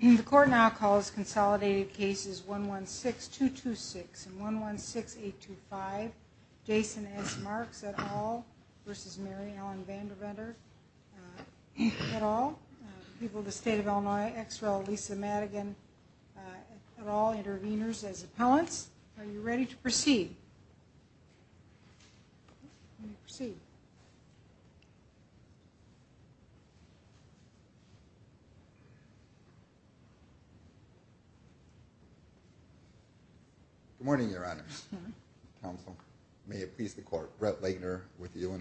The court now calls consolidated cases 116226 and 116825 Jason S. Marks, et al. v. Mary Ellen Vanderventer, et al. People of the State of Illinois, Illinois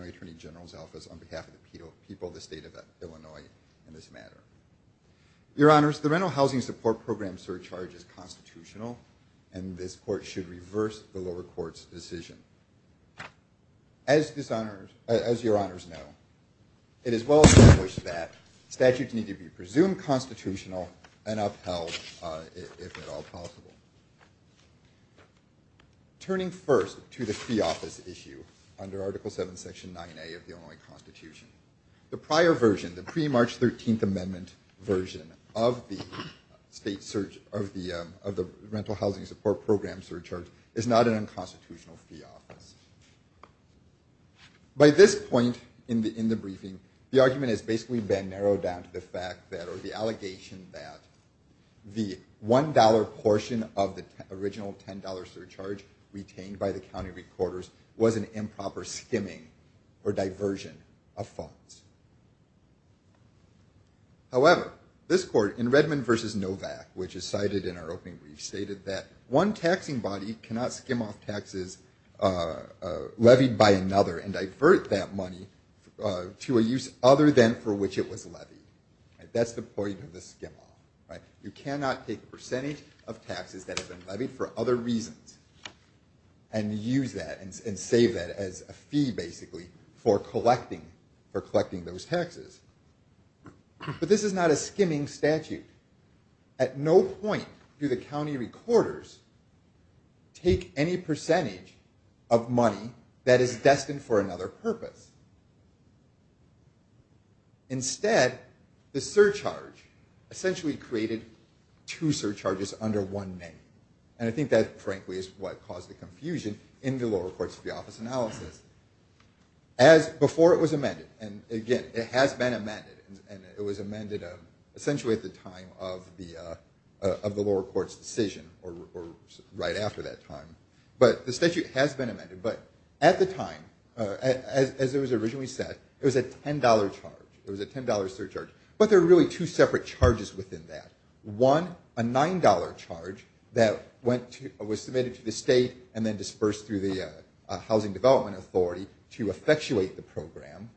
Attorney General's Office, on behalf of the people of the state of Illinois in this matter. Your Honors, the Rental Housing Support Program surcharge is constitutional, and this court should reverse the lower court's decision. As your Honors know, it is well established that statutes need to be presumed constitutional and upheld, if at all possible. Turning first to the fee office issue under Article VII, Section 9A of the Illinois Constitution, the prior version, the pre-March 13th Amendment version of the Rental Housing Support Program surcharge is not an unconstitutional fee office. By this point in the briefing, the argument has basically been narrowed down to the fact that, or the allegation that, the $1.00 portion of the original $10.00 surcharge retained by the county recorders was an improper skimming or diversion of funds. However, this court, in Redmond v. Novak, which is cited in our opening brief, stated that one taxing body cannot skim off taxes levied by another and divert that money to a use other than for which it was levied. That's the point of the skim off. You cannot take a percentage of taxes that have been levied for other reasons and use that and save that as a fee, basically, for collecting taxes. But this is not a skimming statute. At no point do the county recorders take any percentage of money that is destined for another purpose. Instead, the surcharge essentially created two surcharges under one name. And I think that, frankly, is what caused the confusion in the lower courts fee office analysis. As before it was amended, and again, it has been amended, and it was amended essentially at the time of the lower court's decision, or right after that time. But the statute has been amended. But at the time, as it was originally set, it was a $10.00 charge. It was a $10.00 surcharge. But there are really two separate charges within that. One, a $9.00 charge that was submitted to the state and then dispersed through the Housing Development Authority to effectuate the program.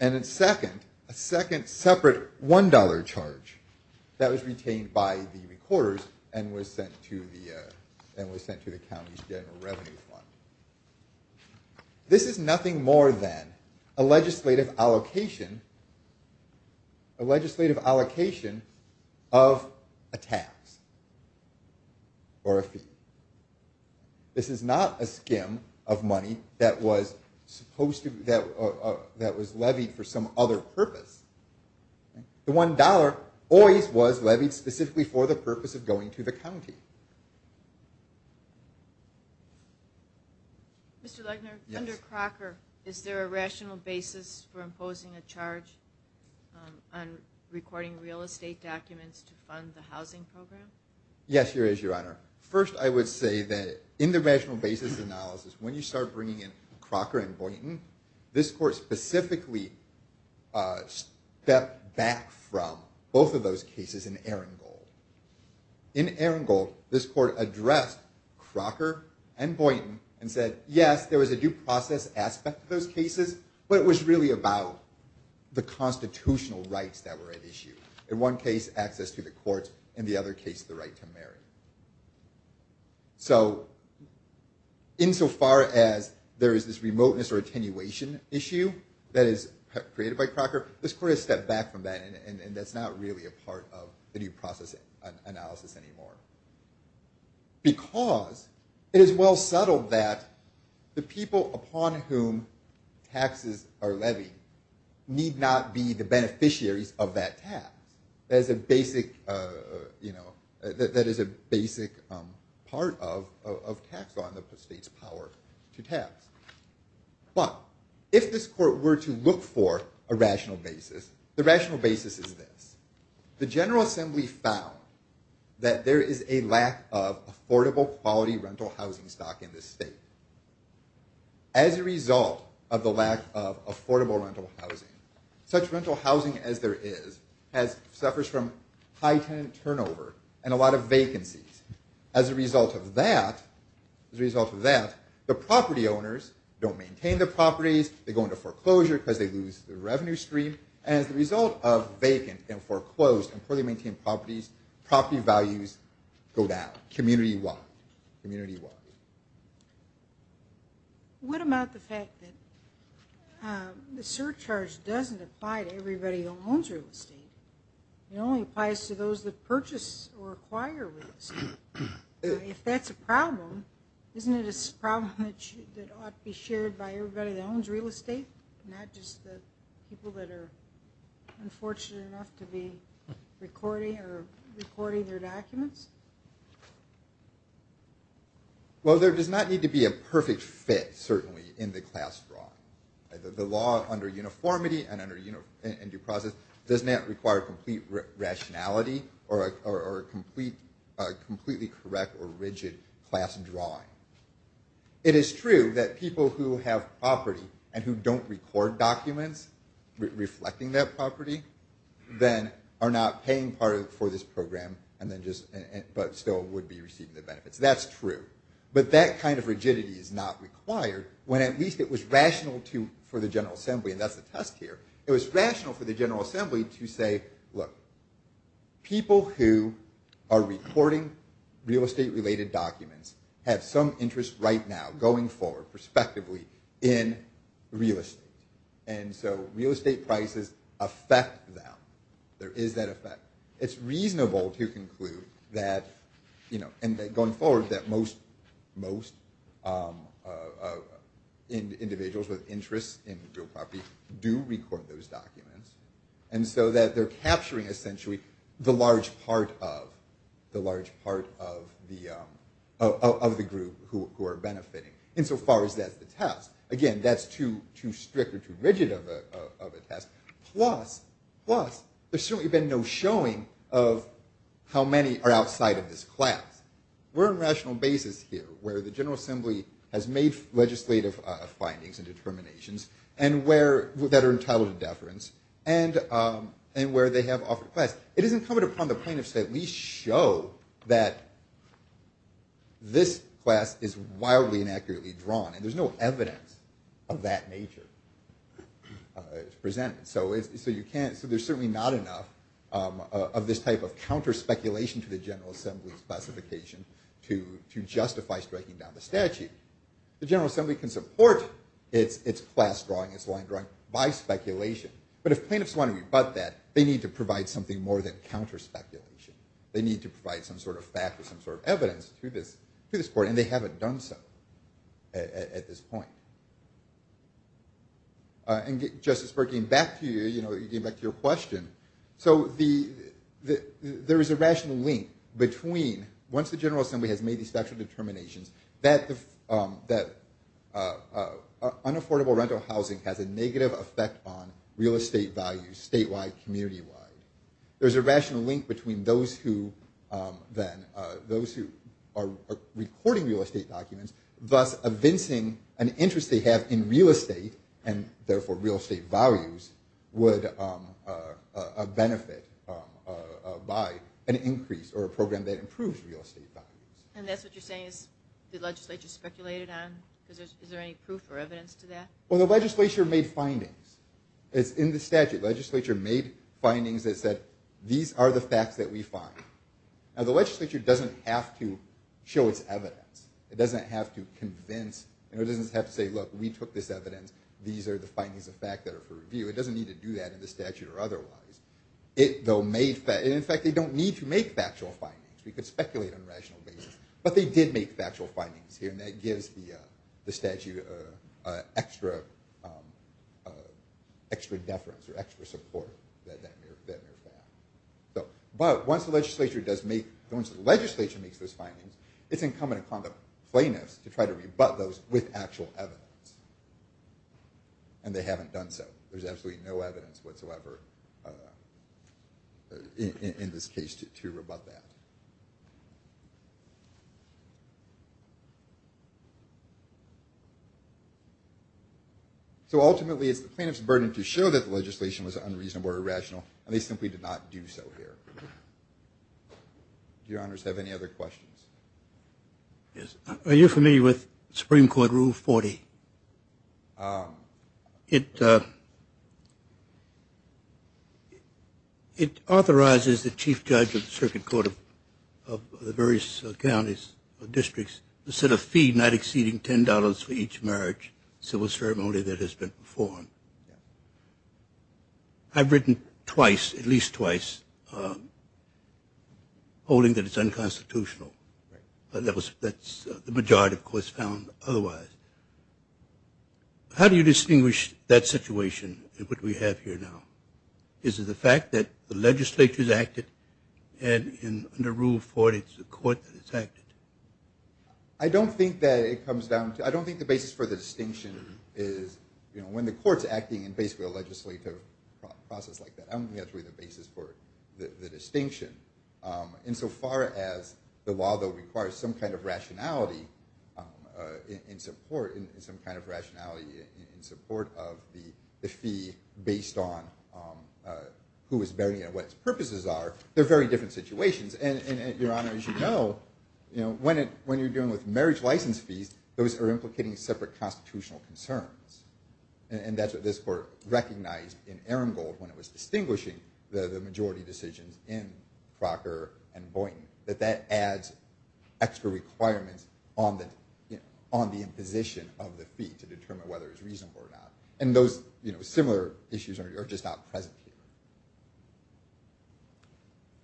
And then second, a second separate $1.00 charge that was retained by the recorders and was sent to the county's general revenue fund. This is nothing more than a legislative allocation of a tax or a fee. This is not a skim of money that was levied for some other purpose. The $1.00 always was levied specifically for the purpose of going to the county. Mr. Legner, under Crocker, is there a rational basis for imposing a charge on recording real estate documents to fund the housing program? Yes, there is, Your Honor. First, I would say that in the rational basis analysis, when you start bringing in Crocker and Boynton, this court specifically stepped back from both of those cases in Arengold. In Arengold, this court addressed Crocker and Boynton and said, yes, there was a due process aspect to those cases, but it was really about the constitutional rights that were at issue. In one case, access to the courts. In the other case, the right to marry. So insofar as there is this remoteness or attenuation issue that is created by Crocker, this court has stepped back from that, and that's not really a part of the due process analysis anymore. Because it is well settled that the people upon whom taxes are levied need not be the beneficiaries of that tax. That is a basic part of tax law in the state's power to tax. But if this court were to look for a rational basis, the rational basis is this. The General Assembly found that there is a lack of affordable, quality rental housing stock in this state. As a result of the lack of affordable rental housing, such rental housing as there is suffers from high tenant turnover and a lot of vacancies. As a result of that, the property owners don't maintain their properties, they go into foreclosure because they lose their revenue stream. As a result of vacant and foreclosed and poorly maintained properties, property values go down, community-wide. What about the fact that the surcharge doesn't apply to everybody that owns real estate? It only applies to those that purchase or acquire real estate. If that's a problem, isn't it a problem that ought to be shared by everybody that owns real estate, not just the people that are unfortunate enough to be recording their documents? Well, there does not need to be a perfect fit, certainly, in the class drawing. The law under uniformity and due process does not require complete rationality or a completely correct or rigid class drawing. It is true that people who have property and who don't record documents reflecting that property then are not paying for this program, but still would be receiving the benefits. That's true. But that kind of rigidity is not required when at least it was rational for the General Assembly, and that's the test here, it was rational for the General Assembly to say, look, people who are recording real estate-related documents have some interest right now going forward, prospectively, in real estate. And so real estate prices affect them. There is that effect. It's reasonable to conclude that, you know, and going forward, that most individuals with interest in real property do record those documents. And so that they're capturing, essentially, the large part of the group who are benefiting, insofar as that's the test. Again, that's too strict or too rigid of a test. Plus, there's certainly been no showing of how many are outside of this class. We're on a rational basis here, where the General Assembly has made legislative findings and determinations that are entitled to deference, and where they have offered class. It is incumbent upon the plaintiffs to at least show that this class is wildly inaccurately drawn, and there's no evidence of that nature presented. So there's certainly not enough of this type of counter-speculation to the General Assembly's classification to justify striking down the statute. The General Assembly can support its class drawing, its line drawing, by speculation, but if plaintiffs want to rebut that, they need to provide something more than counter-speculation. They need to provide some sort of fact or some sort of evidence to this court, and they haven't done so at this point. And Justice Burke, getting back to you, you know, getting back to your question, so there is a rational link between, once the General Assembly has made these special determinations, that unaffordable rental housing has a negative effect on real estate values, statewide, community-wide. There's a rational link between those who then, those who are recording real estate documents, thus evincing an interest they have in real estate, and therefore real estate values, would benefit by an increase or a program that improves real estate values. And that's what you're saying is the legislature speculated on? Is there any proof or evidence to that? Well, the legislature made findings. It's in the statute. Legislature made findings that said, these are the facts that we find. Now, the legislature doesn't have to show its evidence. It doesn't have to convince, you know, it doesn't have to say, look, we took this evidence, these are the findings of fact that are for review. It doesn't need to do that in the statute or otherwise. In fact, they don't need to make factual findings. We could speculate on a rational basis, but they did make factual findings here, and that gives the statute extra deference or extra support. But once the legislature does make, once the legislature makes those findings, it's incumbent upon the plaintiffs to try to rebut those with actual evidence. And they haven't done so. There's absolutely no evidence whatsoever in this case to rebut that. So ultimately, it's the plaintiff's burden to show that the legislation was unreasonable or irrational, and they simply did not do so here. Do your honors have any other questions? Yes. Are you familiar with Supreme Court Rule 40? It authorizes the chief judge of the circuit court of the various counties or districts to set a fee not exceeding $10 for each marriage, civil ceremony that has been performed. I've written twice, at least twice, holding that it's unconstitutional. That's the majority, of course, found otherwise. How do you distinguish that situation and what we have here now? Is it the fact that the legislature's acted, and under Rule 40, it's the court that has acted? I don't think that it comes down to, I don't think the basis for the distinction is, you know, when the court's acting in basically a legislative process like that. I don't think that's really the basis for the distinction. Insofar as the law, though, requires some kind of rationality in support of the fee based on who is bearing it and what its purposes are, they're very different situations. And your honor, as you know, when you're dealing with marriage license fees, those are implicating separate constitutional concerns. And that's what this court recognized in Aramgold when it was distinguishing the majority decisions in Crocker and Boynton, that that adds extra requirements on the imposition of the fee to determine whether it's reasonable or not. And those, you know, similar issues are just not present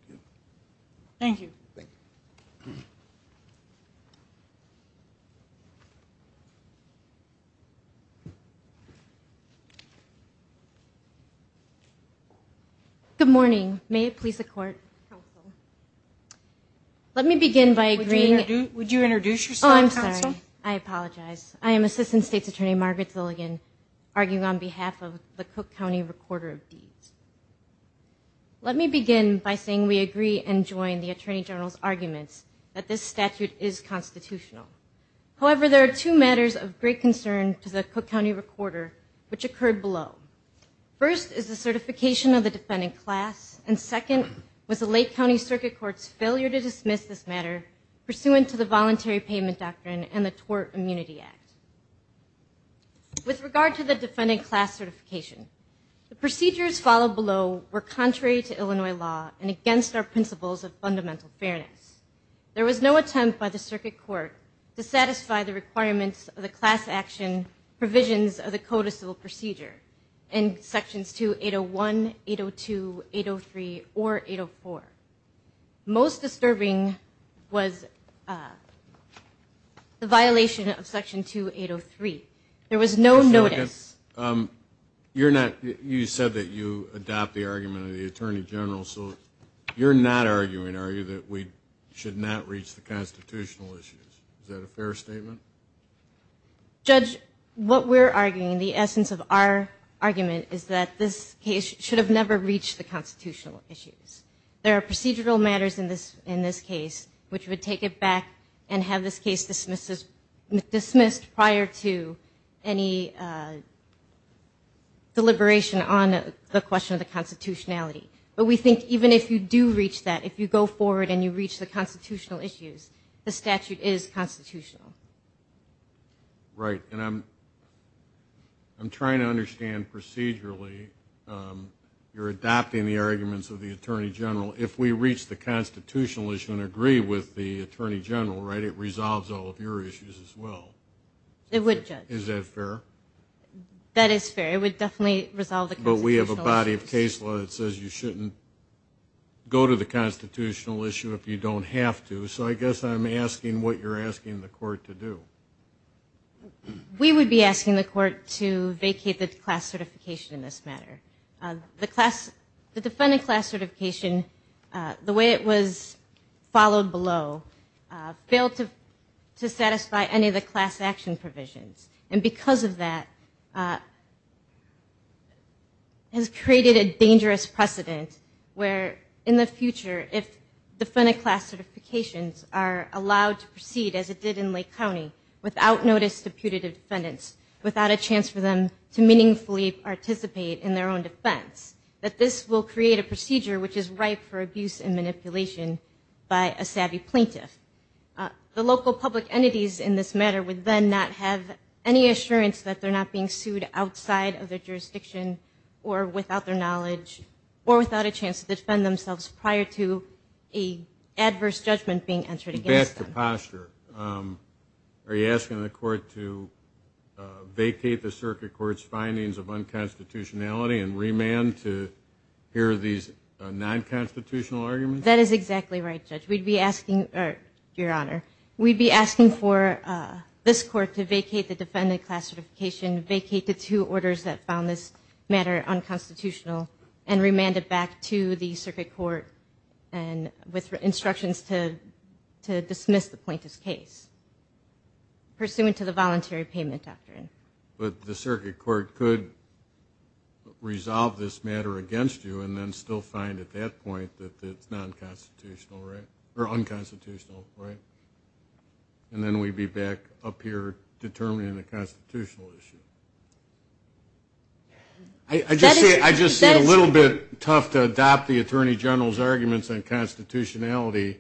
here. Thank you. Good morning. May it please the court. Let me begin by agreeing. Would you introduce yourself, counsel? Thank you. The violation of section 2803. And have this case dismissed prior to any deliberation on the question of the constitutionality. But we think even if you do reach that, if you go forward and you reach the constitutional issues, the statute is constitutional. Right. And I'm trying to understand procedurally, you're adopting the arguments of the attorney general. If we reach the constitutional issue and agree with the attorney general, right, it resolves all of your issues as well. Is that fair? That is fair. It would definitely resolve the constitutional issues. But we have a body of case law that says you shouldn't go to the constitutional issue if you don't have to. So I guess I'm asking what you're asking the court to do. to proceed as it did in Lake County without notice to putative defendants, without a chance for them to meaningfully participate in their own defense. That this will create a procedure which is ripe for abuse and manipulation by a savvy plaintiff. The local public entities in this matter would then not have any assurance that they're not being sued outside of their jurisdiction or without their Back to posture. Are you asking the court to vacate the circuit court's findings of unconstitutionality and remand to hear these non-constitutional arguments? That is exactly right, Judge. We'd be asking, Your Honor, we'd be asking for this court to vacate the defendant class certification, vacate the two orders that found this matter unconstitutional, and remand it back to the circuit court with instructions to dismiss the plaintiff's case pursuant to the voluntary payment doctrine. But the circuit court could resolve this matter against you and then still find at that point that it's non-constitutional, right? Or unconstitutional, right? And then we'd be back up here determining the constitutional issue. I just say it's a little bit tough to adopt the Attorney General's arguments on constitutionality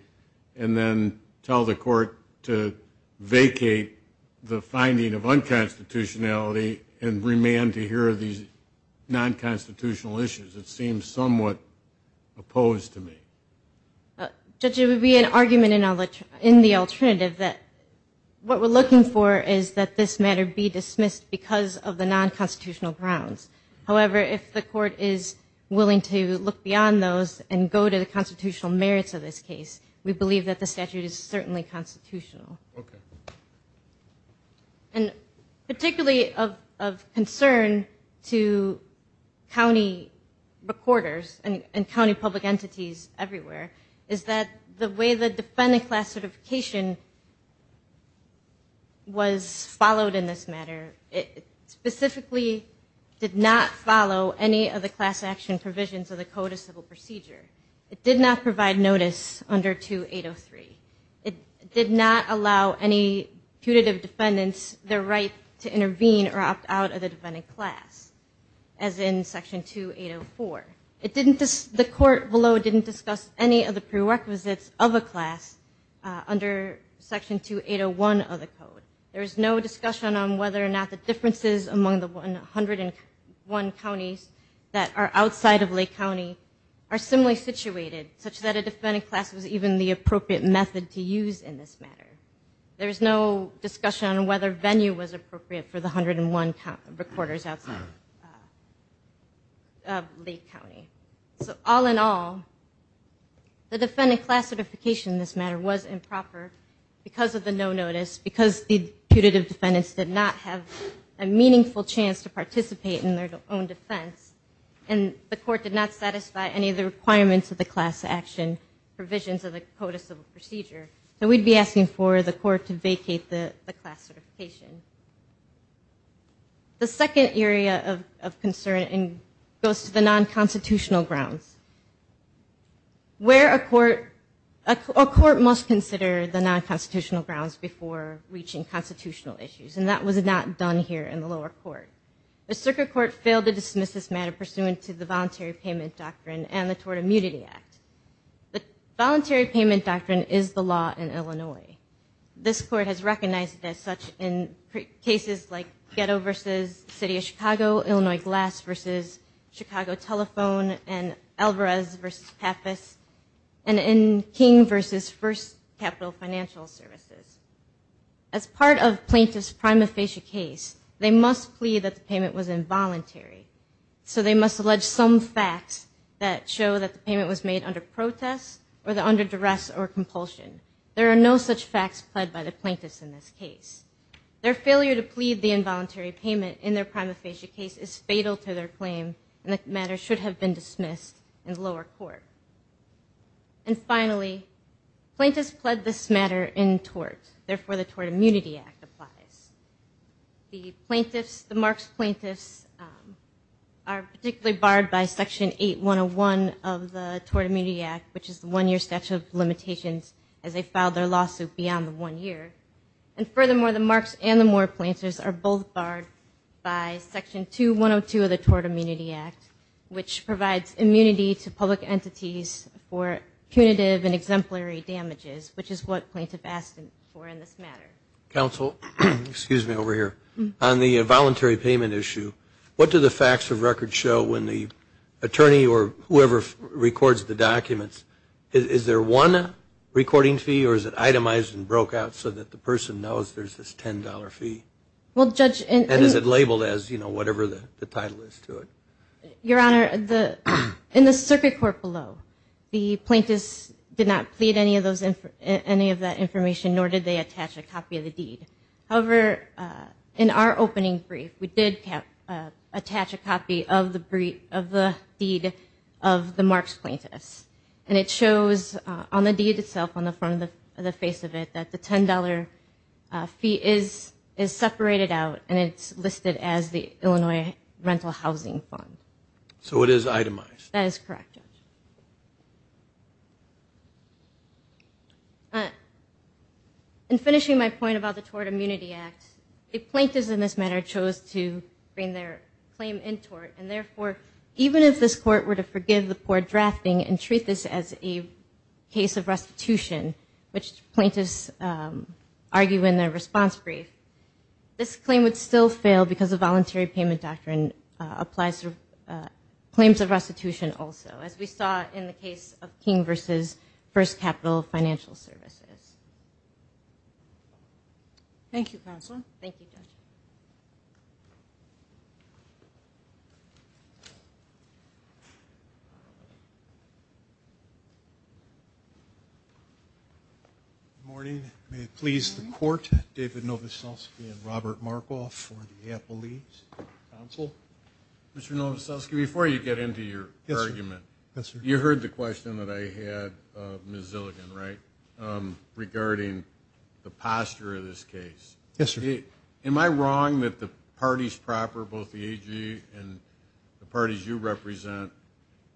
and then tell the court to vacate the finding of unconstitutionality and remand to hear these non-constitutional issues. It seems somewhat opposed to me. Judge, it would be an argument in the alternative that what we're looking for is that this matter be dismissed because it's unconstitutional. Because of the non-constitutional grounds. However, if the court is willing to look beyond those and go to the constitutional merits of this case, we believe that the statute is certainly constitutional. And particularly of concern to county recorders and county public entities everywhere is that the way the defendant class certification was enacted specifically did not follow any of the class action provisions of the Code of Civil Procedure. It did not provide notice under 2803. It did not allow any putative defendants the right to intervene or opt out of the defendant class, as in Section 2804. The court below didn't discuss any of the prerequisites of a class under Section 2801 of the Code. There is no discussion on whether or not the differences among the 101 counties that are outside of Lake County are similarly situated, such that a defendant class was even the appropriate method to use in this matter. There is no discussion on whether venue was appropriate for the 101 recorders outside of Lake County. So all in all, the defendant class certification in this matter was improper because of the no notice, because the putative defendants did not have a meaningful chance to participate in their own defense. And the court did not satisfy any of the requirements of the class action provisions of the Code of Civil Procedure. So we'd be asking for the court to vacate the class certification. The second area of concern goes to the non-constitutional grounds. Where a court must consider the non-constitutional grounds before reaching constitutional issues, and that was not done here in the lower court. The circuit court failed to dismiss this matter pursuant to the voluntary payment doctrine and the Tort Immunity Act. The voluntary payment doctrine is the law in cases like Ghetto v. City of Chicago, Illinois Glass v. Chicago Telephone, and Alvarez v. Pappas, and in King v. First Capital Financial Services. As part of the plaintiff's prima facie case, they must plead that the payment was involuntary. So they must allege some facts that show that the payment was made under protest or under duress or compulsion. There are no such facts pled by the plaintiffs in this case. Their failure to plead the involuntary payment in their prima facie case is fatal to their claim, and the matter should have been dismissed in the lower court. And finally, plaintiffs pled this matter in tort. Therefore, the Tort Immunity Act applies. The plaintiffs, the marks plaintiffs, are particularly barred by Section 8101 of the Tort Immunity Act, which is the one-year statute of limitations as they filed their lawsuit beyond the one year. And furthermore, the marks and the more plaintiffs are both barred by Section 2102 of the Tort Immunity Act, which provides immunity to public entities for punitive and exemplary damages, which is what plaintiffs asked for in this matter. Counsel, excuse me over here. On the voluntary payment issue, what do the facts of record show when the attorney or whoever records the documents? Is there one recording fee, or is it itemized and broke out so that the person knows there's this $10 fee? And is it labeled as whatever the title is to it? Your Honor, in the circuit court below, the plaintiffs did not plead any of that information, nor did they attach a copy of the deed. However, in our opening brief, we did attach a copy of the deed of the marks plaintiffs. And it shows that the marks and the more plaintiffs are both liable. And it shows on the deed itself, on the front of the face of it, that the $10 fee is separated out, and it's listed as the Illinois Rental Housing Fund. So it is itemized? That is correct, Judge. In finishing my point about the Tort Immunity Act, the plaintiffs in this matter chose to bring their claim in tort. And therefore, even if this court were to forgive the poor drafting and treat this as a case of restitution, which plaintiffs argue in their response brief, this claim would still fail because the voluntary payment doctrine applies to claims of restitution also, as we saw in the case of King v. First Capital Financial Services. Good morning. May it please the Court, David Novoselsky and Robert Markoff for the Appellate Counsel. Mr. Novoselsky, before you get into your argument, you heard the question that I had, Ms. Zilligan, right, regarding the posture of this case. Yes, sir. The plaintiffs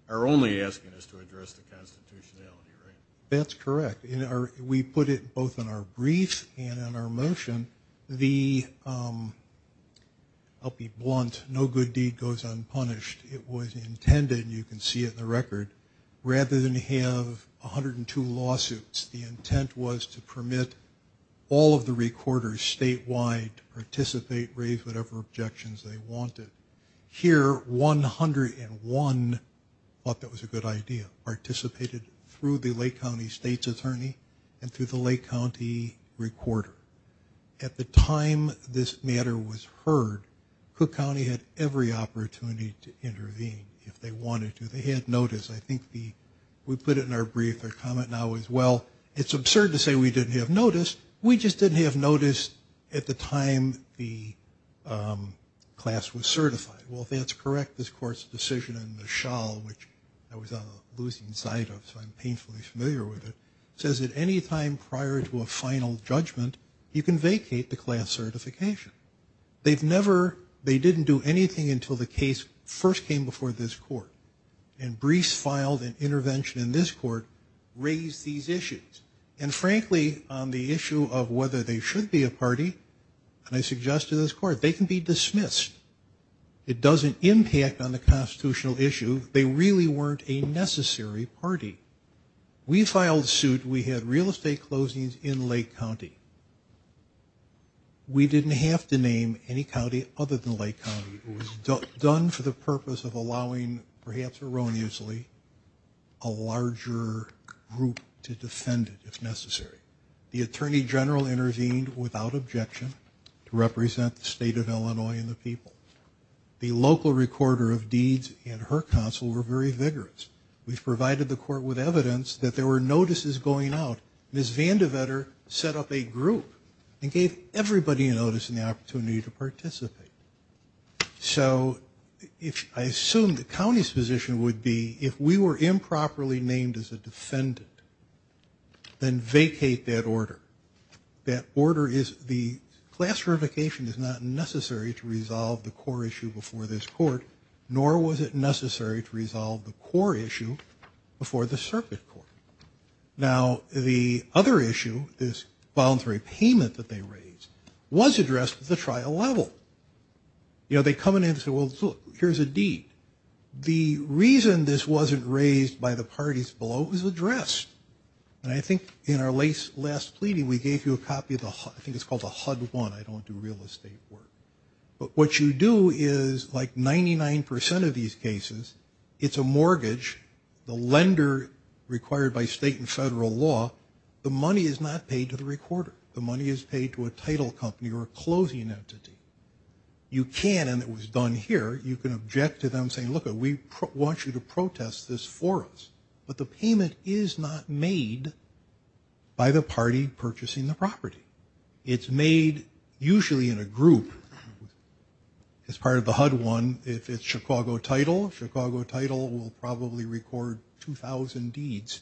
are only asking us to address the constitutionality, right? That's correct. We put it both in our brief and in our motion. I'll be blunt. No good deed goes unpunished. It was intended, you can see it in the record, rather than have 102 lawsuits. The intent was to permit all of the recorders statewide to participate, raise whatever objections they wanted. Here, 101 thought that was a good idea, participated through the Lake County State's Attorney and through the Lake County Recorder. At the time this matter was heard, Cook County had every opportunity to intervene if they wanted to. They had notice. I think we put it in our brief. Our comment now is, well, it's absurd to say we didn't have notice. We just didn't have notice at the time the class was served. Well, if that's correct, this court's decision in the shawl, which I was on the losing side of, so I'm painfully familiar with it, says that any time prior to a final judgment, you can vacate the class certification. They didn't do anything until the case first came before this court, and briefs filed and intervention in this court raised these issues. And frankly, on the issue of whether they should be a party, and I suggest to this court, they can be dismissed. It doesn't impact on the constitutional issue. They really weren't a necessary party. We filed suit. We had real estate closings in Lake County. We didn't have to name any county other than Lake County. It was done for the purpose of allowing, perhaps erroneously, a larger group to defend it if necessary. The Attorney General intervened without objection to represent the state of Illinois and the people. The local recorder of deeds and her counsel were very vigorous. We've provided the court with evidence that there were notices going out. Ms. Vandiver set up a group and gave everybody a notice and the opportunity to participate. So I assume the county's position would be, if we were improperly named as a defendant, then vacate that order. That order is, the class certification is not necessary to resolve the core issue before the court. Nor was it necessary to resolve the core issue before the circuit court. Now, the other issue, this voluntary payment that they raised, was addressed at the trial level. You know, they come in and say, well, look, here's a deed. The reason this wasn't raised by the parties below was addressed. And I think in our last pleading, we gave you a copy of the HUD, I think it's called the HUD 1. I don't do real estate work. But what you do is, like 99% of these cases, it's a mortgage, the lender required by state and federal law, the money is not paid to the recorder. The money is paid to a title company or a closing entity. You can, and it was done here, you can object to them saying, look, we want you to protest this for us. But the payment is not made by the party purchasing the property. It's made usually in a group as part of the HUD 1. If it's Chicago title, Chicago title will probably record 2,000 deeds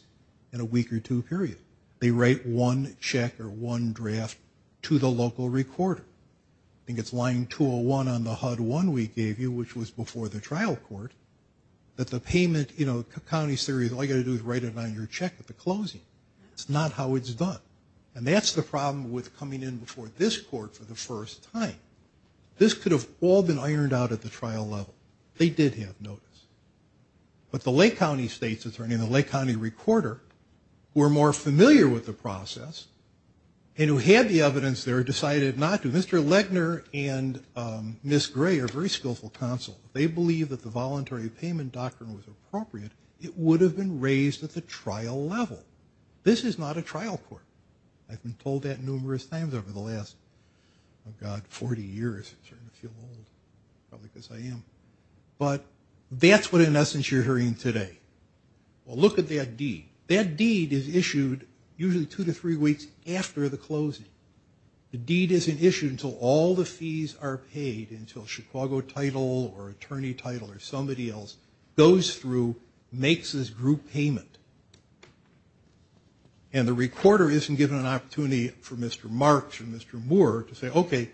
in a week or two period. They write one check or one draft to the local recorder. I think it's line 201 on the HUD 1 we gave you, which was before the trial court, that the payment, you know, county's theory is all you got to do is write it on your check at the closing. That's not how it's done. And that's the problem with coming in before this court for the first time. This could have all been ironed out at the trial level. They did have notice. But the Lake County state's attorney and the Lake County recorder were more familiar with the process, and who had the evidence there decided not to. Mr. Legner and Ms. Gray are very skillful counsel. They believe that the voluntary payment doctrine was appropriate. It would have been raised at the trial level. This is not a trial court. I've been told that numerous times over the last, oh, God, 40 years. I'm starting to feel old, probably because I am. But that's what, in essence, you're hearing today. Well, look at that deed. And the recorder isn't given an opportunity for Mr. Marks or Mr. Moore to say, okay,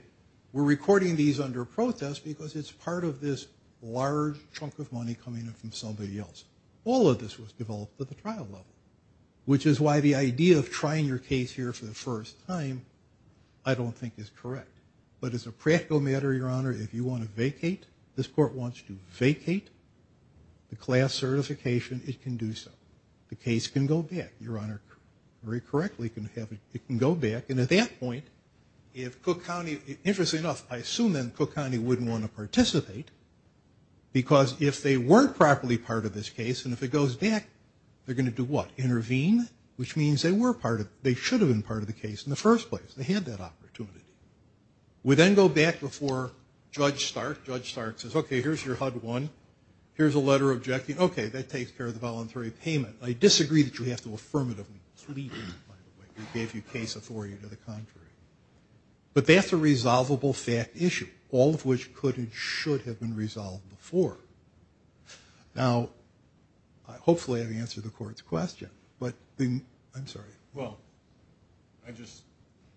we're recording these under protest because it's part of this large chunk of money coming in from somebody else. All of this was developed at the trial level, which is why the idea of trying your case here for the first time I don't think is correct. But as a practical matter, Your Honor, if you want to vacate, this court wants to vacate the class certification, it can do so. The case can go back, Your Honor, very correctly, it can go back. And at that point, if Cook County, interestingly enough, I assume then Cook County wouldn't want to participate, because if they weren't properly part of this case, and if it goes back, they're going to do what? Intervene, which means they were part of, they should have been part of the case in the first place. They had that opportunity. We then go back before Judge Stark. Judge Stark says, okay, here's your HUD-1, here's a letter objecting, okay, that takes care of the voluntary payment. I disagree that you have to affirmatively plead in it, by the way. We gave you case authority to the contrary. But that's a resolvable fact issue, all of which could and should have been resolved before. Now, hopefully I've answered the court's question, but I'm sorry. Well, I just,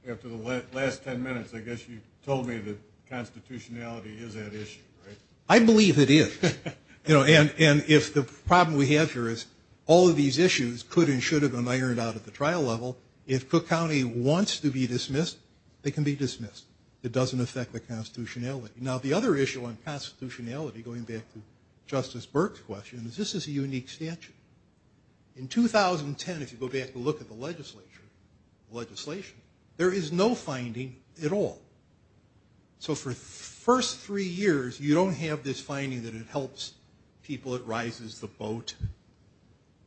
after the last ten minutes, I guess you told me that constitutionality is that issue, right? I believe it is. And if the problem we have here is all of these issues could and should have been ironed out at the trial level, if Cook County wants to be dismissed, they can be dismissed. It doesn't affect the constitutionality. Now, the other issue on constitutionality, going back to Justice Burke's question, is this is a unique statute. In 2010, if you go back and look at the legislature, the legislation, there is no finding at all. So for the first three years, you don't have this finding that it helps people, it rises the boat.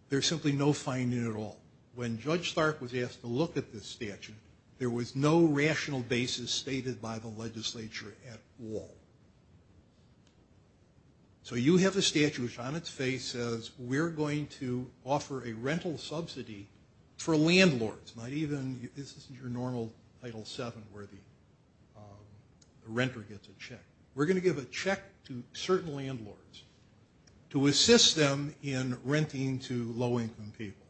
There's simply no finding at all. When Judge Stark was asked to look at this statute, there was no rational basis stated by the legislature at all. So you have a statute which on its face says we're going to offer a rental subsidy for landlords, not even, this isn't your normal Title VII where the renter gets a check. We're going to give a check to certain landlords to assist them in renting to low-income people.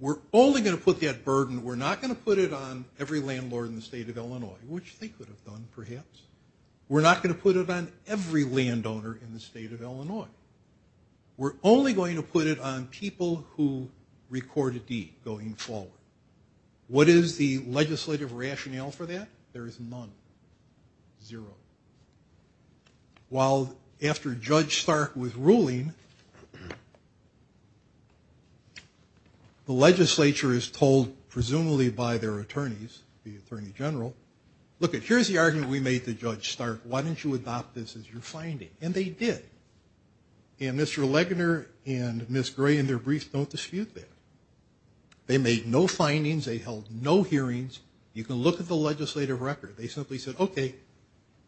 We're only going to put that burden, we're not going to put it on every landlord in the state of Illinois, which they could have done, perhaps. We're not going to put it on every landowner in the state of Illinois. We're only going to put it on people who record a deed going forward. What is the legislative rationale for that? There is none, zero. While after Judge Stark was ruling, the legislature is told, presumably by their attorneys, the Attorney General, lookit, here's the argument we made to Judge Stark, why don't you adopt this as your finding? And they did. And Mr. Legner and Ms. Gray in their brief don't dispute that. They made no findings, they held no hearings. You can look at the legislative record. They simply said, okay,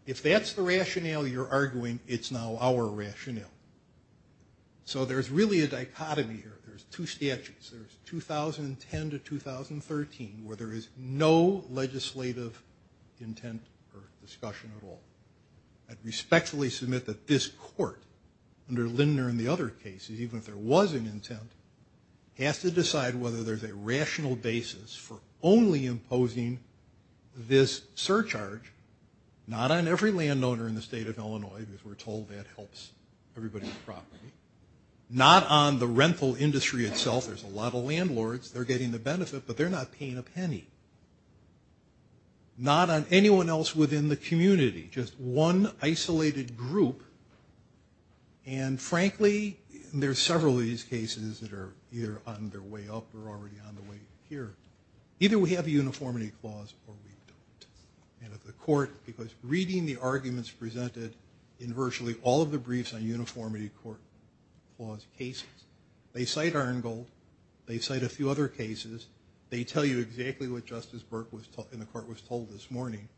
if that's the rationale you're arguing, it's now our rationale. So there's really a dichotomy here. There's two statutes, there's 2010 to 2013, where there is no legislative intent or discussion at all. I respectfully submit that this court, under Lindner and the other cases, even if there was an intent, has to decide whether there's a rational basis for only imposing this surcharge, not on every landowner in the state of Illinois, because we're told that helps everybody's property. Not on the rental industry itself, there's a lot of landlords, they're getting the benefit, but they're not paying a penny. Not on anyone else within the community, just one isolated group. And frankly, there's several of these cases that are either on their way up or already on their way here. Either we have a uniformity clause or we don't. Reading the arguments presented in virtually all of the briefs on uniformity clause cases, they cite Irongold, they cite a few other cases, they tell you exactly what Justice Burke in the court was told this morning.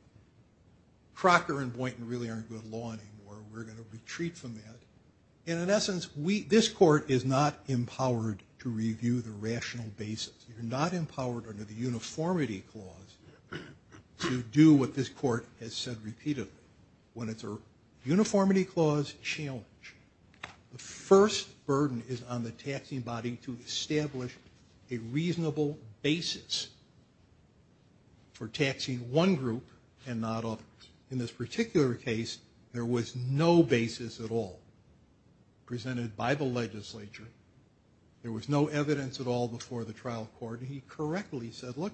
Crocker and Boynton really aren't good law anymore, we're going to retreat from that. And in essence, this court is not empowered to review the rational basis. You're not empowered under the uniformity clause to do what this court has said repeatedly. When it's a uniformity clause challenge, the first burden is on the taxing body to establish a reasonable basis for taxing one group and not others. In this particular case, there was no basis at all presented by the legislature. There was no evidence at all before the trial court. He correctly said, look,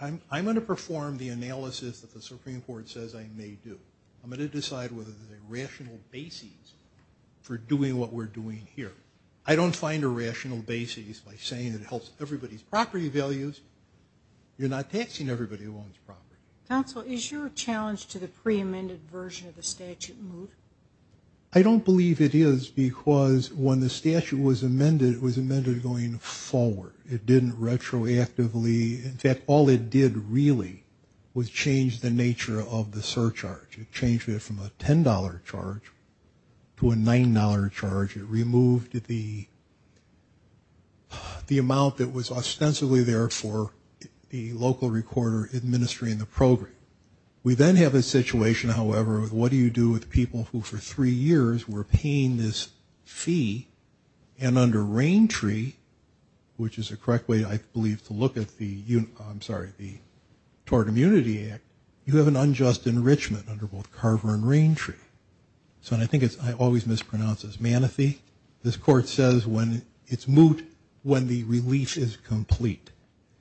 I'm going to perform the analysis that the Supreme Court says I may do. I'm going to decide whether there's a rational basis for doing what we're doing here. I don't find a rational basis by saying it helps everybody's property values. You're not taxing everybody who owns property. I don't believe it is because when the statute was amended, it was amended going forward. It didn't retroactively, in fact, all it did really was change the nature of the surcharge. It changed it from a $10 charge to a $9 charge. It removed the amount that was ostensibly there for the local recorder administering the program. We then have a situation, however, with what do you do with people who for three years were paying this fee and under Rain Tree, which is the correct way I believe to look at the, I'm sorry, the Tort Immunity Act, you have an unjust enrichment under both Carver and Rain Tree. So I think it's, I always mispronounce this, Manatee. This court says it's moot when the relief is complete.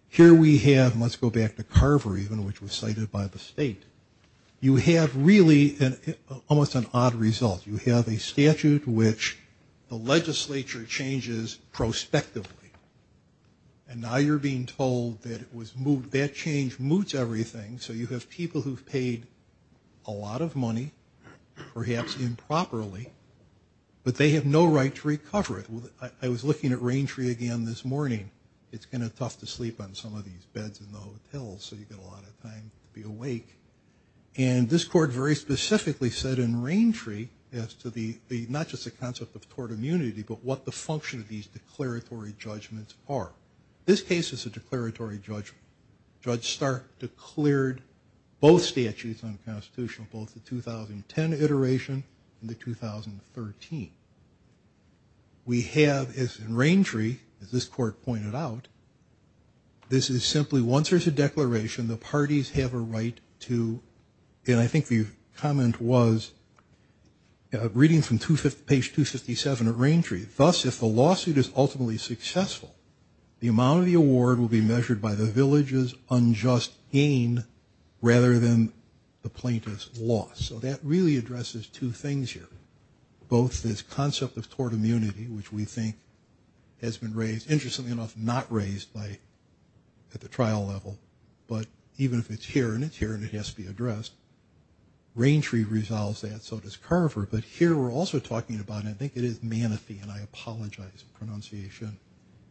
Here we have, and let's go back to Carver even, which was cited by the state. You have really almost an odd result. You have a statute which the legislature changes prospectively. And now you're being told that it was moot, that change moots everything. So you have people who've paid a lot of money, perhaps improperly, but they have no right to recover it. I was looking at Rain Tree again this morning. It's kind of tough to sleep on some of these beds in the hotels, so you get a lot of time to be awake. And this court very specifically said in Rain Tree as to the, not just the concept of tort immunity, but what the function of these declaratory judgments are. This case is a declaratory judgment. Judge Stark declared both statutes unconstitutional, both the 2010 iteration and the 2013. We have, as in Rain Tree, as this court pointed out, this is simply once there's a declaration, the parties have a right to, and I think the comment was, reading from page 257 of Rain Tree, thus if the lawsuit is ultimately successful, the amount of the award will be measured by the village's unjust gain rather than the plaintiff's loss. So that really addresses two things here, both this concept of tort immunity, which we think has been raised, interestingly enough, not raised at the trial level, but even if it's here and it's here and it has to be addressed, Rain Tree resolves that, so does Carver, but here we're also talking about, and I think it is Manatee, and I apologize for the pronunciation,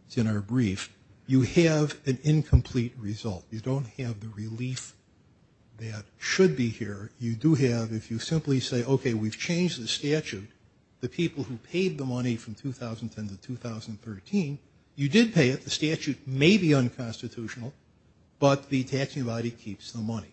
it's in our brief, you have an incomplete result. You don't have the relief that should be here. You do have, if you simply say, okay, we've changed the statute, the people who paid the money from 2010 to 2013, you did pay it, the statute may be unconstitutional, but the taxing body keeps the money.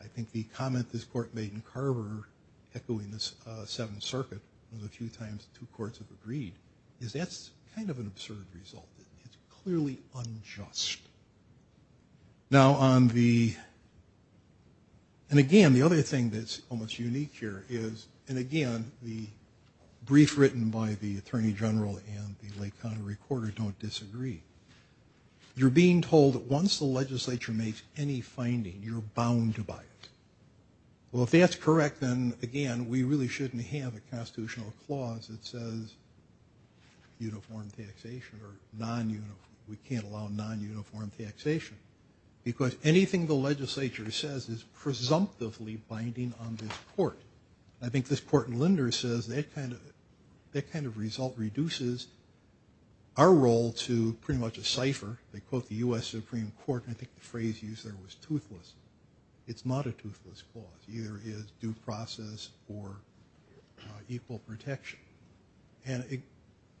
I think the comment this court made in Carver, echoing this Seventh Circuit, a few times two courts have agreed, is that's kind of an absurd result. It's clearly unjust. And again, the other thing that's almost unique here is, and again, the brief written by the Attorney General and the Lake County recorder don't disagree. You're being told that once the legislature makes any finding, you're bound to buy it. Well, if that's correct, then again, we really shouldn't have a constitutional clause that says uniform taxation or non-uniform, we can't allow non-uniform taxation. Because anything the legislature says is presumptively binding on this court. I think this court in Linder says that kind of result reduces our role to pretty much a cipher. They quote the U.S. Supreme Court, and I think the phrase used there was toothless. It's not a toothless clause, either it is due process or equal protection. And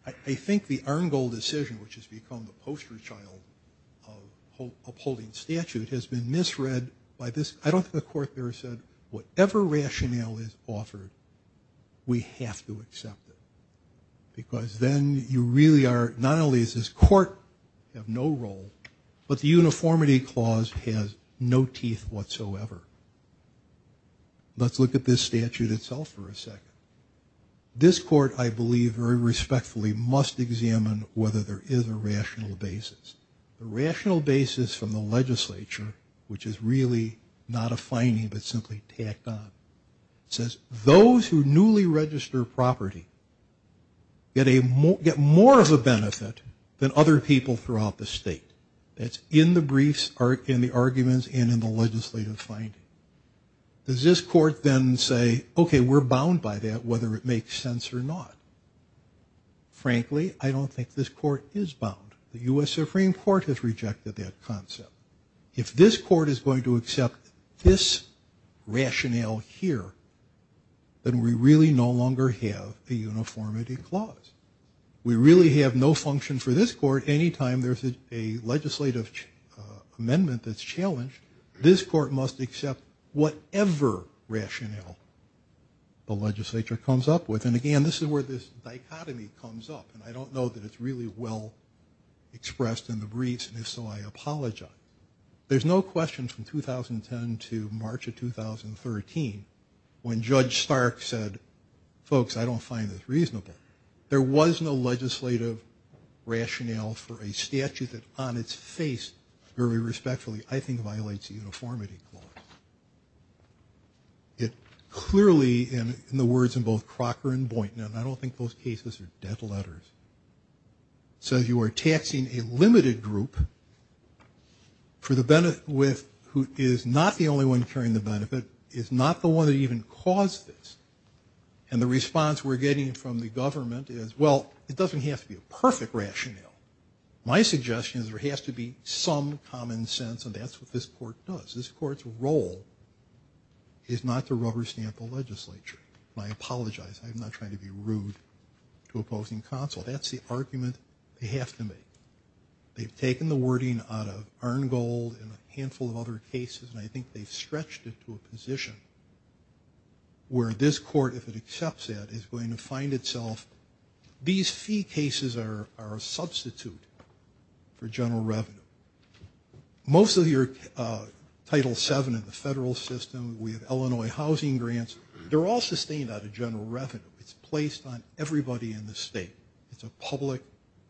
I think the Arngold decision, which has become the poster child of upholding statute, has been misread by this, I don't think the court there said, whatever rationale is offered, we have to accept it. Because then you really are, not only does this court have no role, but the uniformity clause has no teeth whatsoever. Let's look at this statute itself for a second. This court, I believe very respectfully, must examine whether there is a rational basis. A rational basis from the legislature, which is really not a finding, but simply tacked on. It says, those who newly register property get more of a benefit than other people throughout the state. That's in the briefs and the arguments and in the legislative finding. Does this court then say, okay, we're bound by that, whether it makes sense or not? Frankly, I don't think this court is bound. The U.S. Supreme Court has rejected that concept. If this court is going to accept this rationale here, then we really no longer have the uniformity clause. We really have no function for this court anytime there's a legislative amendment that's challenged. This court must accept whatever rationale the legislature comes up with. And again, this is where this dichotomy comes up. And I don't know that it's really well expressed in the briefs, and if so, I apologize. There's no question from 2010 to March of 2013, when Judge Stark said, folks, I don't find this reasonable. There was no legislative rationale for a statute that on its face, very respectfully, I think violates the uniformity clause. It clearly, in the words of both Crocker and Boynton, and I don't think those cases are debt letters, says you are taxing a limited group who is not the only one carrying the benefit, is not the one that even caused this. And the response we're getting from the government is, well, it doesn't have to be a perfect rationale. My suggestion is there has to be some common sense, and that's what this court does. This court's role is not to rubber stamp the legislature. And I apologize, I'm not trying to be rude to opposing counsel. That's the argument they have to make. They've taken the wording out of Arngold and a handful of other cases, and I think they've stretched it to a position where this court, if it accepts that, is going to find itself, these fee cases are a substitute for general revenue. Most of your Title VII in the federal system, we have Illinois housing grants, they're all sustained out of general revenue. It's placed on everybody in the state. It's a public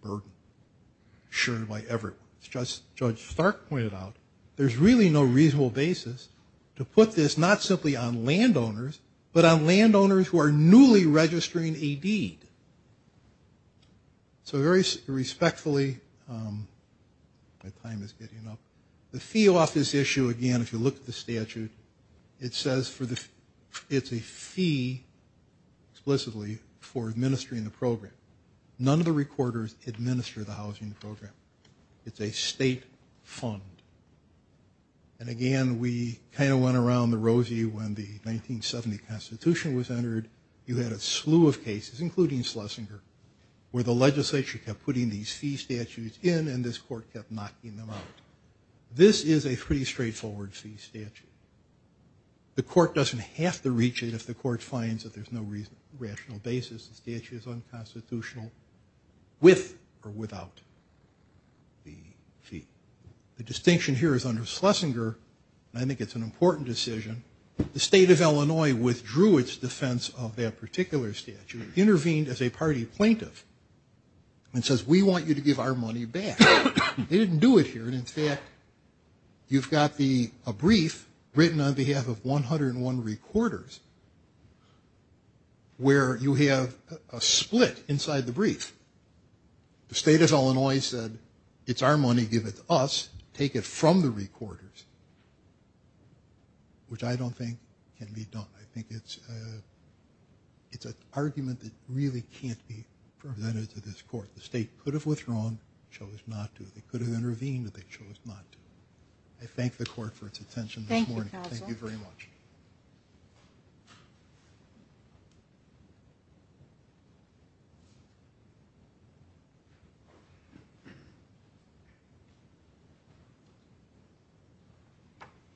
burden shared by everyone. As Judge Stark pointed out, there's really no reasonable basis to put this not simply on landowners, but on landowners who are newly registering a deed. So very respectfully, my time is getting up. The fee office issue, again, if you look at the statute, it says it's a fee, explicitly, for administering the program. None of the recorders administer the housing program. It's a state fund. And again, we kind of went around the rosy when the 1970 Constitution was entered. You had a slew of cases, including Schlesinger, where the legislature kept putting these fee statutes in, this court kept knocking them out. This is a pretty straightforward fee statute. The court doesn't have to reach it if the court finds that there's no rational basis. The statute is unconstitutional with or without the fee. The distinction here is under Schlesinger, and I think it's an important decision, the state of Illinois withdrew its defense of that particular statute, intervened as a party plaintiff, and says, we want you to give our money back. They didn't do it here. And in fact, you've got a brief written on behalf of 101 recorders, where you have a split inside the brief. The state of Illinois said, it's our money, give it to us, take it from the recorders, which I don't think can be done. I think it's an argument that really can't be presented to this court. The state could have withdrawn, chose not to. They could have intervened, but they chose not to. I thank the court for its attention this morning. Thank you very much.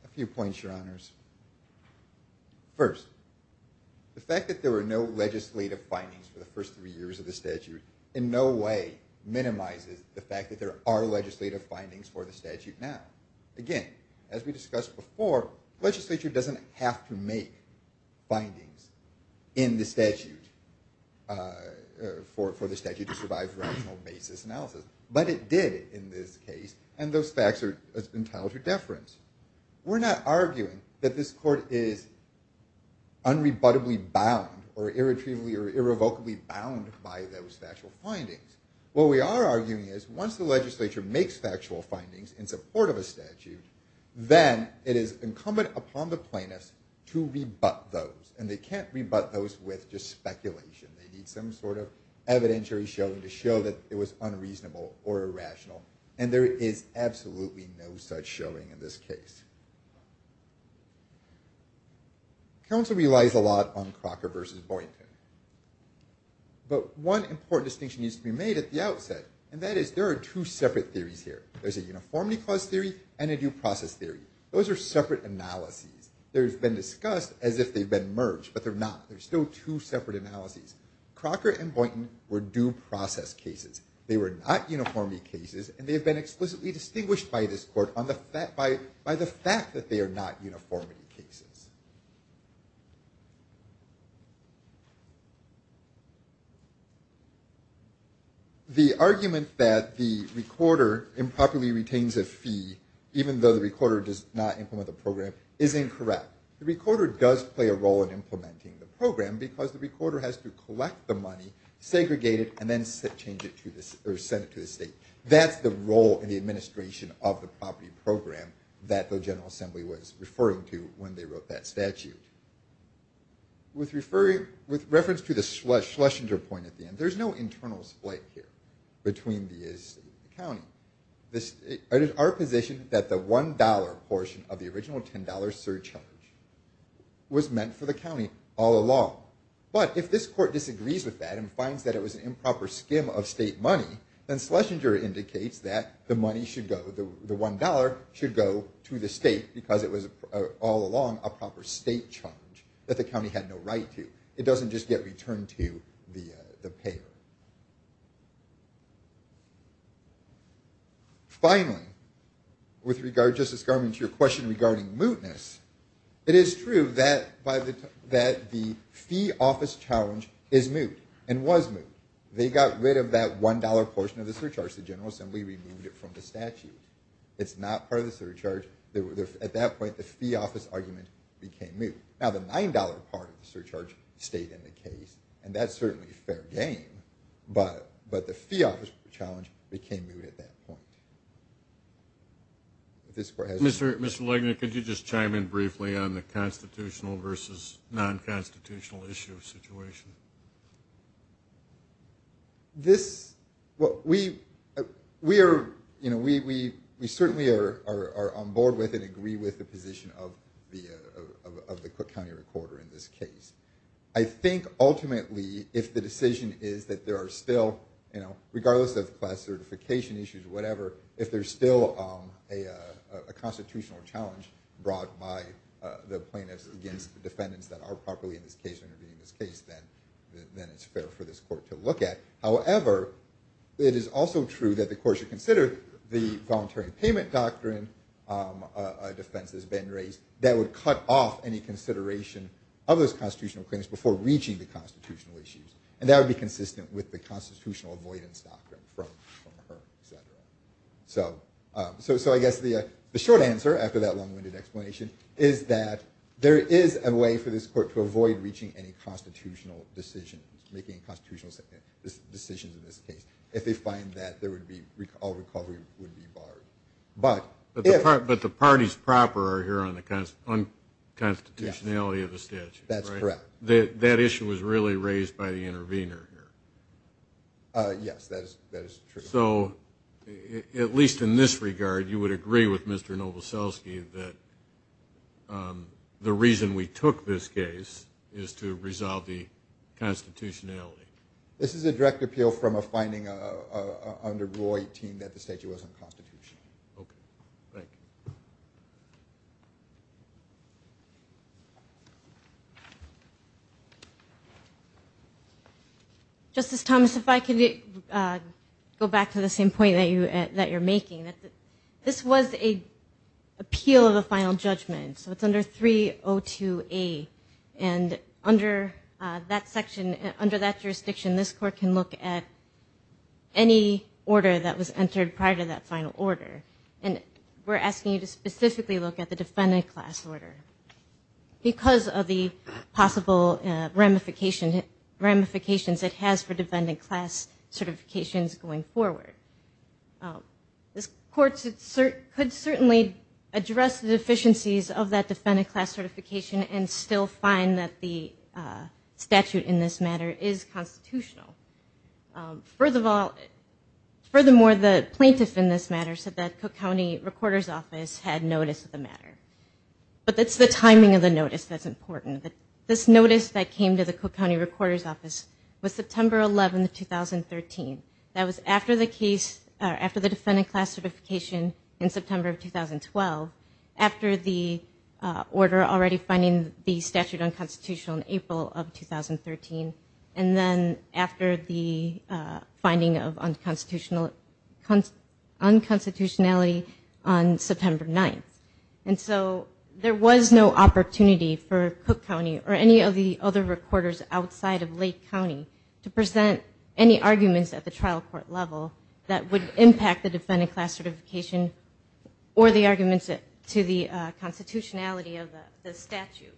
A few points, Your Honors. First, the fact that there were no legislative findings for the first three years of the statute in no way minimizes the fact that there are legislative findings for the statute now. Again, as we discussed before, legislature doesn't have to make findings in the statute for the statute to survive rational basis analysis. But it did in this case, and those facts are entitled to deference. We're not arguing that this court is unrebuttably bound or irrevocably bound by those factual findings. What we are arguing is, once the legislature makes factual findings in support of a statute, then it is incumbent upon the plaintiffs to rebut those. And they can't rebut those with just speculation. They need some sort of evidentiary showing to show that it was unreasonable or irrational. And there is absolutely no such showing in this case. Counsel relies a lot on Crocker versus Boynton. But one important distinction needs to be made at the outset, and that is there are two separate theories here. There's a uniformity clause theory and a due process theory. Those are separate analyses. There's been discussed as if they've been merged, but they're not. There's still two separate analyses. Crocker and Boynton were due process cases. They were not uniformity cases, and they have been explicitly distinguished by this court by the fact that they are not uniformity cases. The argument that the recorder improperly retains a fee, even though the recorder does not implement the program, is incorrect. The recorder does play a role in implementing the program because the recorder has to collect the money, segregate it, and then send it to the state. That's the role in the administration of the property program that the General Assembly was referring to when they wrote that statute. With reference to the Schlesinger point at the end, there's no internal split here between the state and the county. It is our position that the $1 portion of the original $10 surcharge was meant for the county all along. But if this court disagrees with that and finds that it was an improper skim of state money, then Schlesinger indicates that the $1 should go to the state because it was all along a proper state charge that the county had no right to. It doesn't just get returned to the payer. Finally, with regard, Justice Garment, to your question regarding mootness, it is true that the fee office challenge is moot and was moot. They got rid of that $1 portion of the surcharge. The General Assembly removed it from the statute. It's not part of the surcharge. At that point, the fee office argument became moot. Now, the $9 part of the surcharge stayed in the case, and that's certainly a fair game, but the fee office challenge became moot at that point. Mr. Legner, could you just chime in briefly on the constitutional versus non-constitutional issue or situation? We certainly are on board with and agree with the position of the Cook County Recorder in this case. I think ultimately, if the decision is that there are still, regardless of class certification issues or whatever, if there's still a constitutional challenge brought by the plaintiffs against the defendants that are properly intervening in this case, then it's fair for this court to look at. However, it is also true that the court should consider the voluntary payment doctrine defense that's been raised that would cut off any consideration of those constitutional claims before reaching the constitutional issues. And that would be consistent with the constitutional avoidance doctrine from her. So I guess the short answer, after that long-winded explanation, is that there is a way for this court to avoid reaching any constitutional decisions, making constitutional decisions in this case, if they find that all recovery would be barred. But the parties proper are here on the constitutionality of the statute. That's correct. That issue was really raised by the intervener here. Yes, that is true. So, at least in this regard, you would agree with Mr. Novoselsky that the reason we took this case is to resolve the constitutionality. This is a direct appeal from a finding under Rule 18 that the statute wasn't constitutional. Justice Thomas, if I could go back to the same point that you're making. This was an appeal of the final judgment, so it's under 302A. And under that section, under that jurisdiction, this court can look at any order that was entered prior to that final order. And we're asking you to specifically look at the defendant class order, because of the possible ramifications it has for defendant class certifications going forward. This court could certainly address the deficiencies of that defendant class certification and still find that the statute in this matter is constitutional. Furthermore, the plaintiff in this matter said that Cook County Recorder's Office had notice of the matter. But it's the timing of the notice that's important. This notice that came to the Cook County Recorder's Office was September 11, 2013. That was after the defendant class certification in September of 2012, after the order already finding the statute unconstitutional in April of 2013, and then after the finding of unconstitutionality on September 9. And so there was no opportunity for Cook County or any of the other recorders outside of Lake County to present any arguments at the trial court level that would impact the defendant class certification or the arguments to the constitutionality of the statute.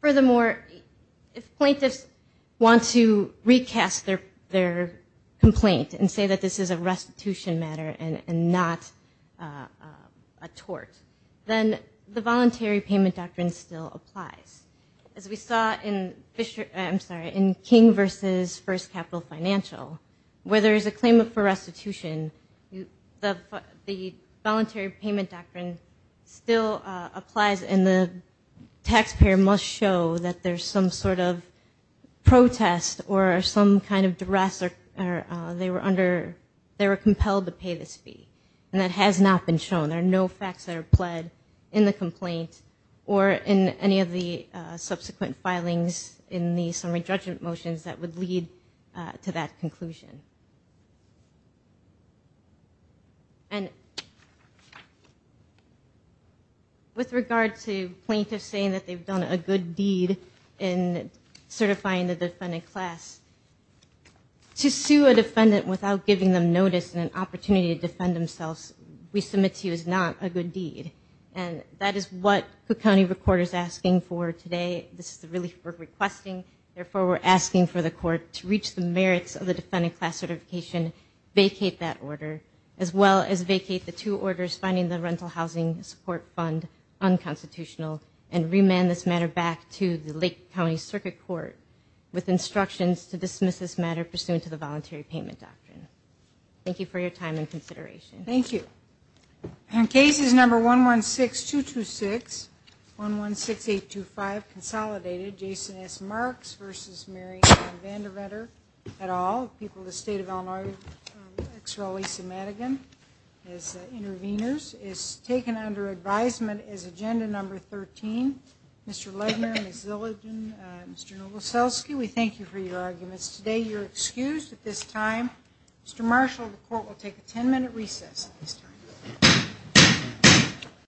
Furthermore, if plaintiffs want to recast their complaint and say that this is a restitution matter and not a tort, then the voluntary payment doctrine still applies. As we saw in King v. First Capital Financial, where there is a claim for restitution, the voluntary payment doctrine still applies and the taxpayer must show that there's some sort of protest or some kind of duress or they were under, they were compelled to pay this fee. And that has not been shown. There are no facts that are pled in the complaint or in any of the subsequent filings in the summary judgment motions that would lead to that conclusion. With regard to plaintiffs saying that they've done a good deed in certifying the defendant class, to sue a defendant without giving them notice and an opportunity to defend themselves, we submit to you, is not a good deed. And that is what Cook County Court is asking for today. This is the relief we're requesting. Therefore, we're asking for the court to reach the merits of the defendant class certification, vacate that order, as well as vacate the two orders finding the rental housing support fund unconstitutional and remand this matter back to the Lake County Circuit Court with instructions to dismiss this matter and move forward with the case. Thank you. Thank you. Thank you. Thank you. Thank you.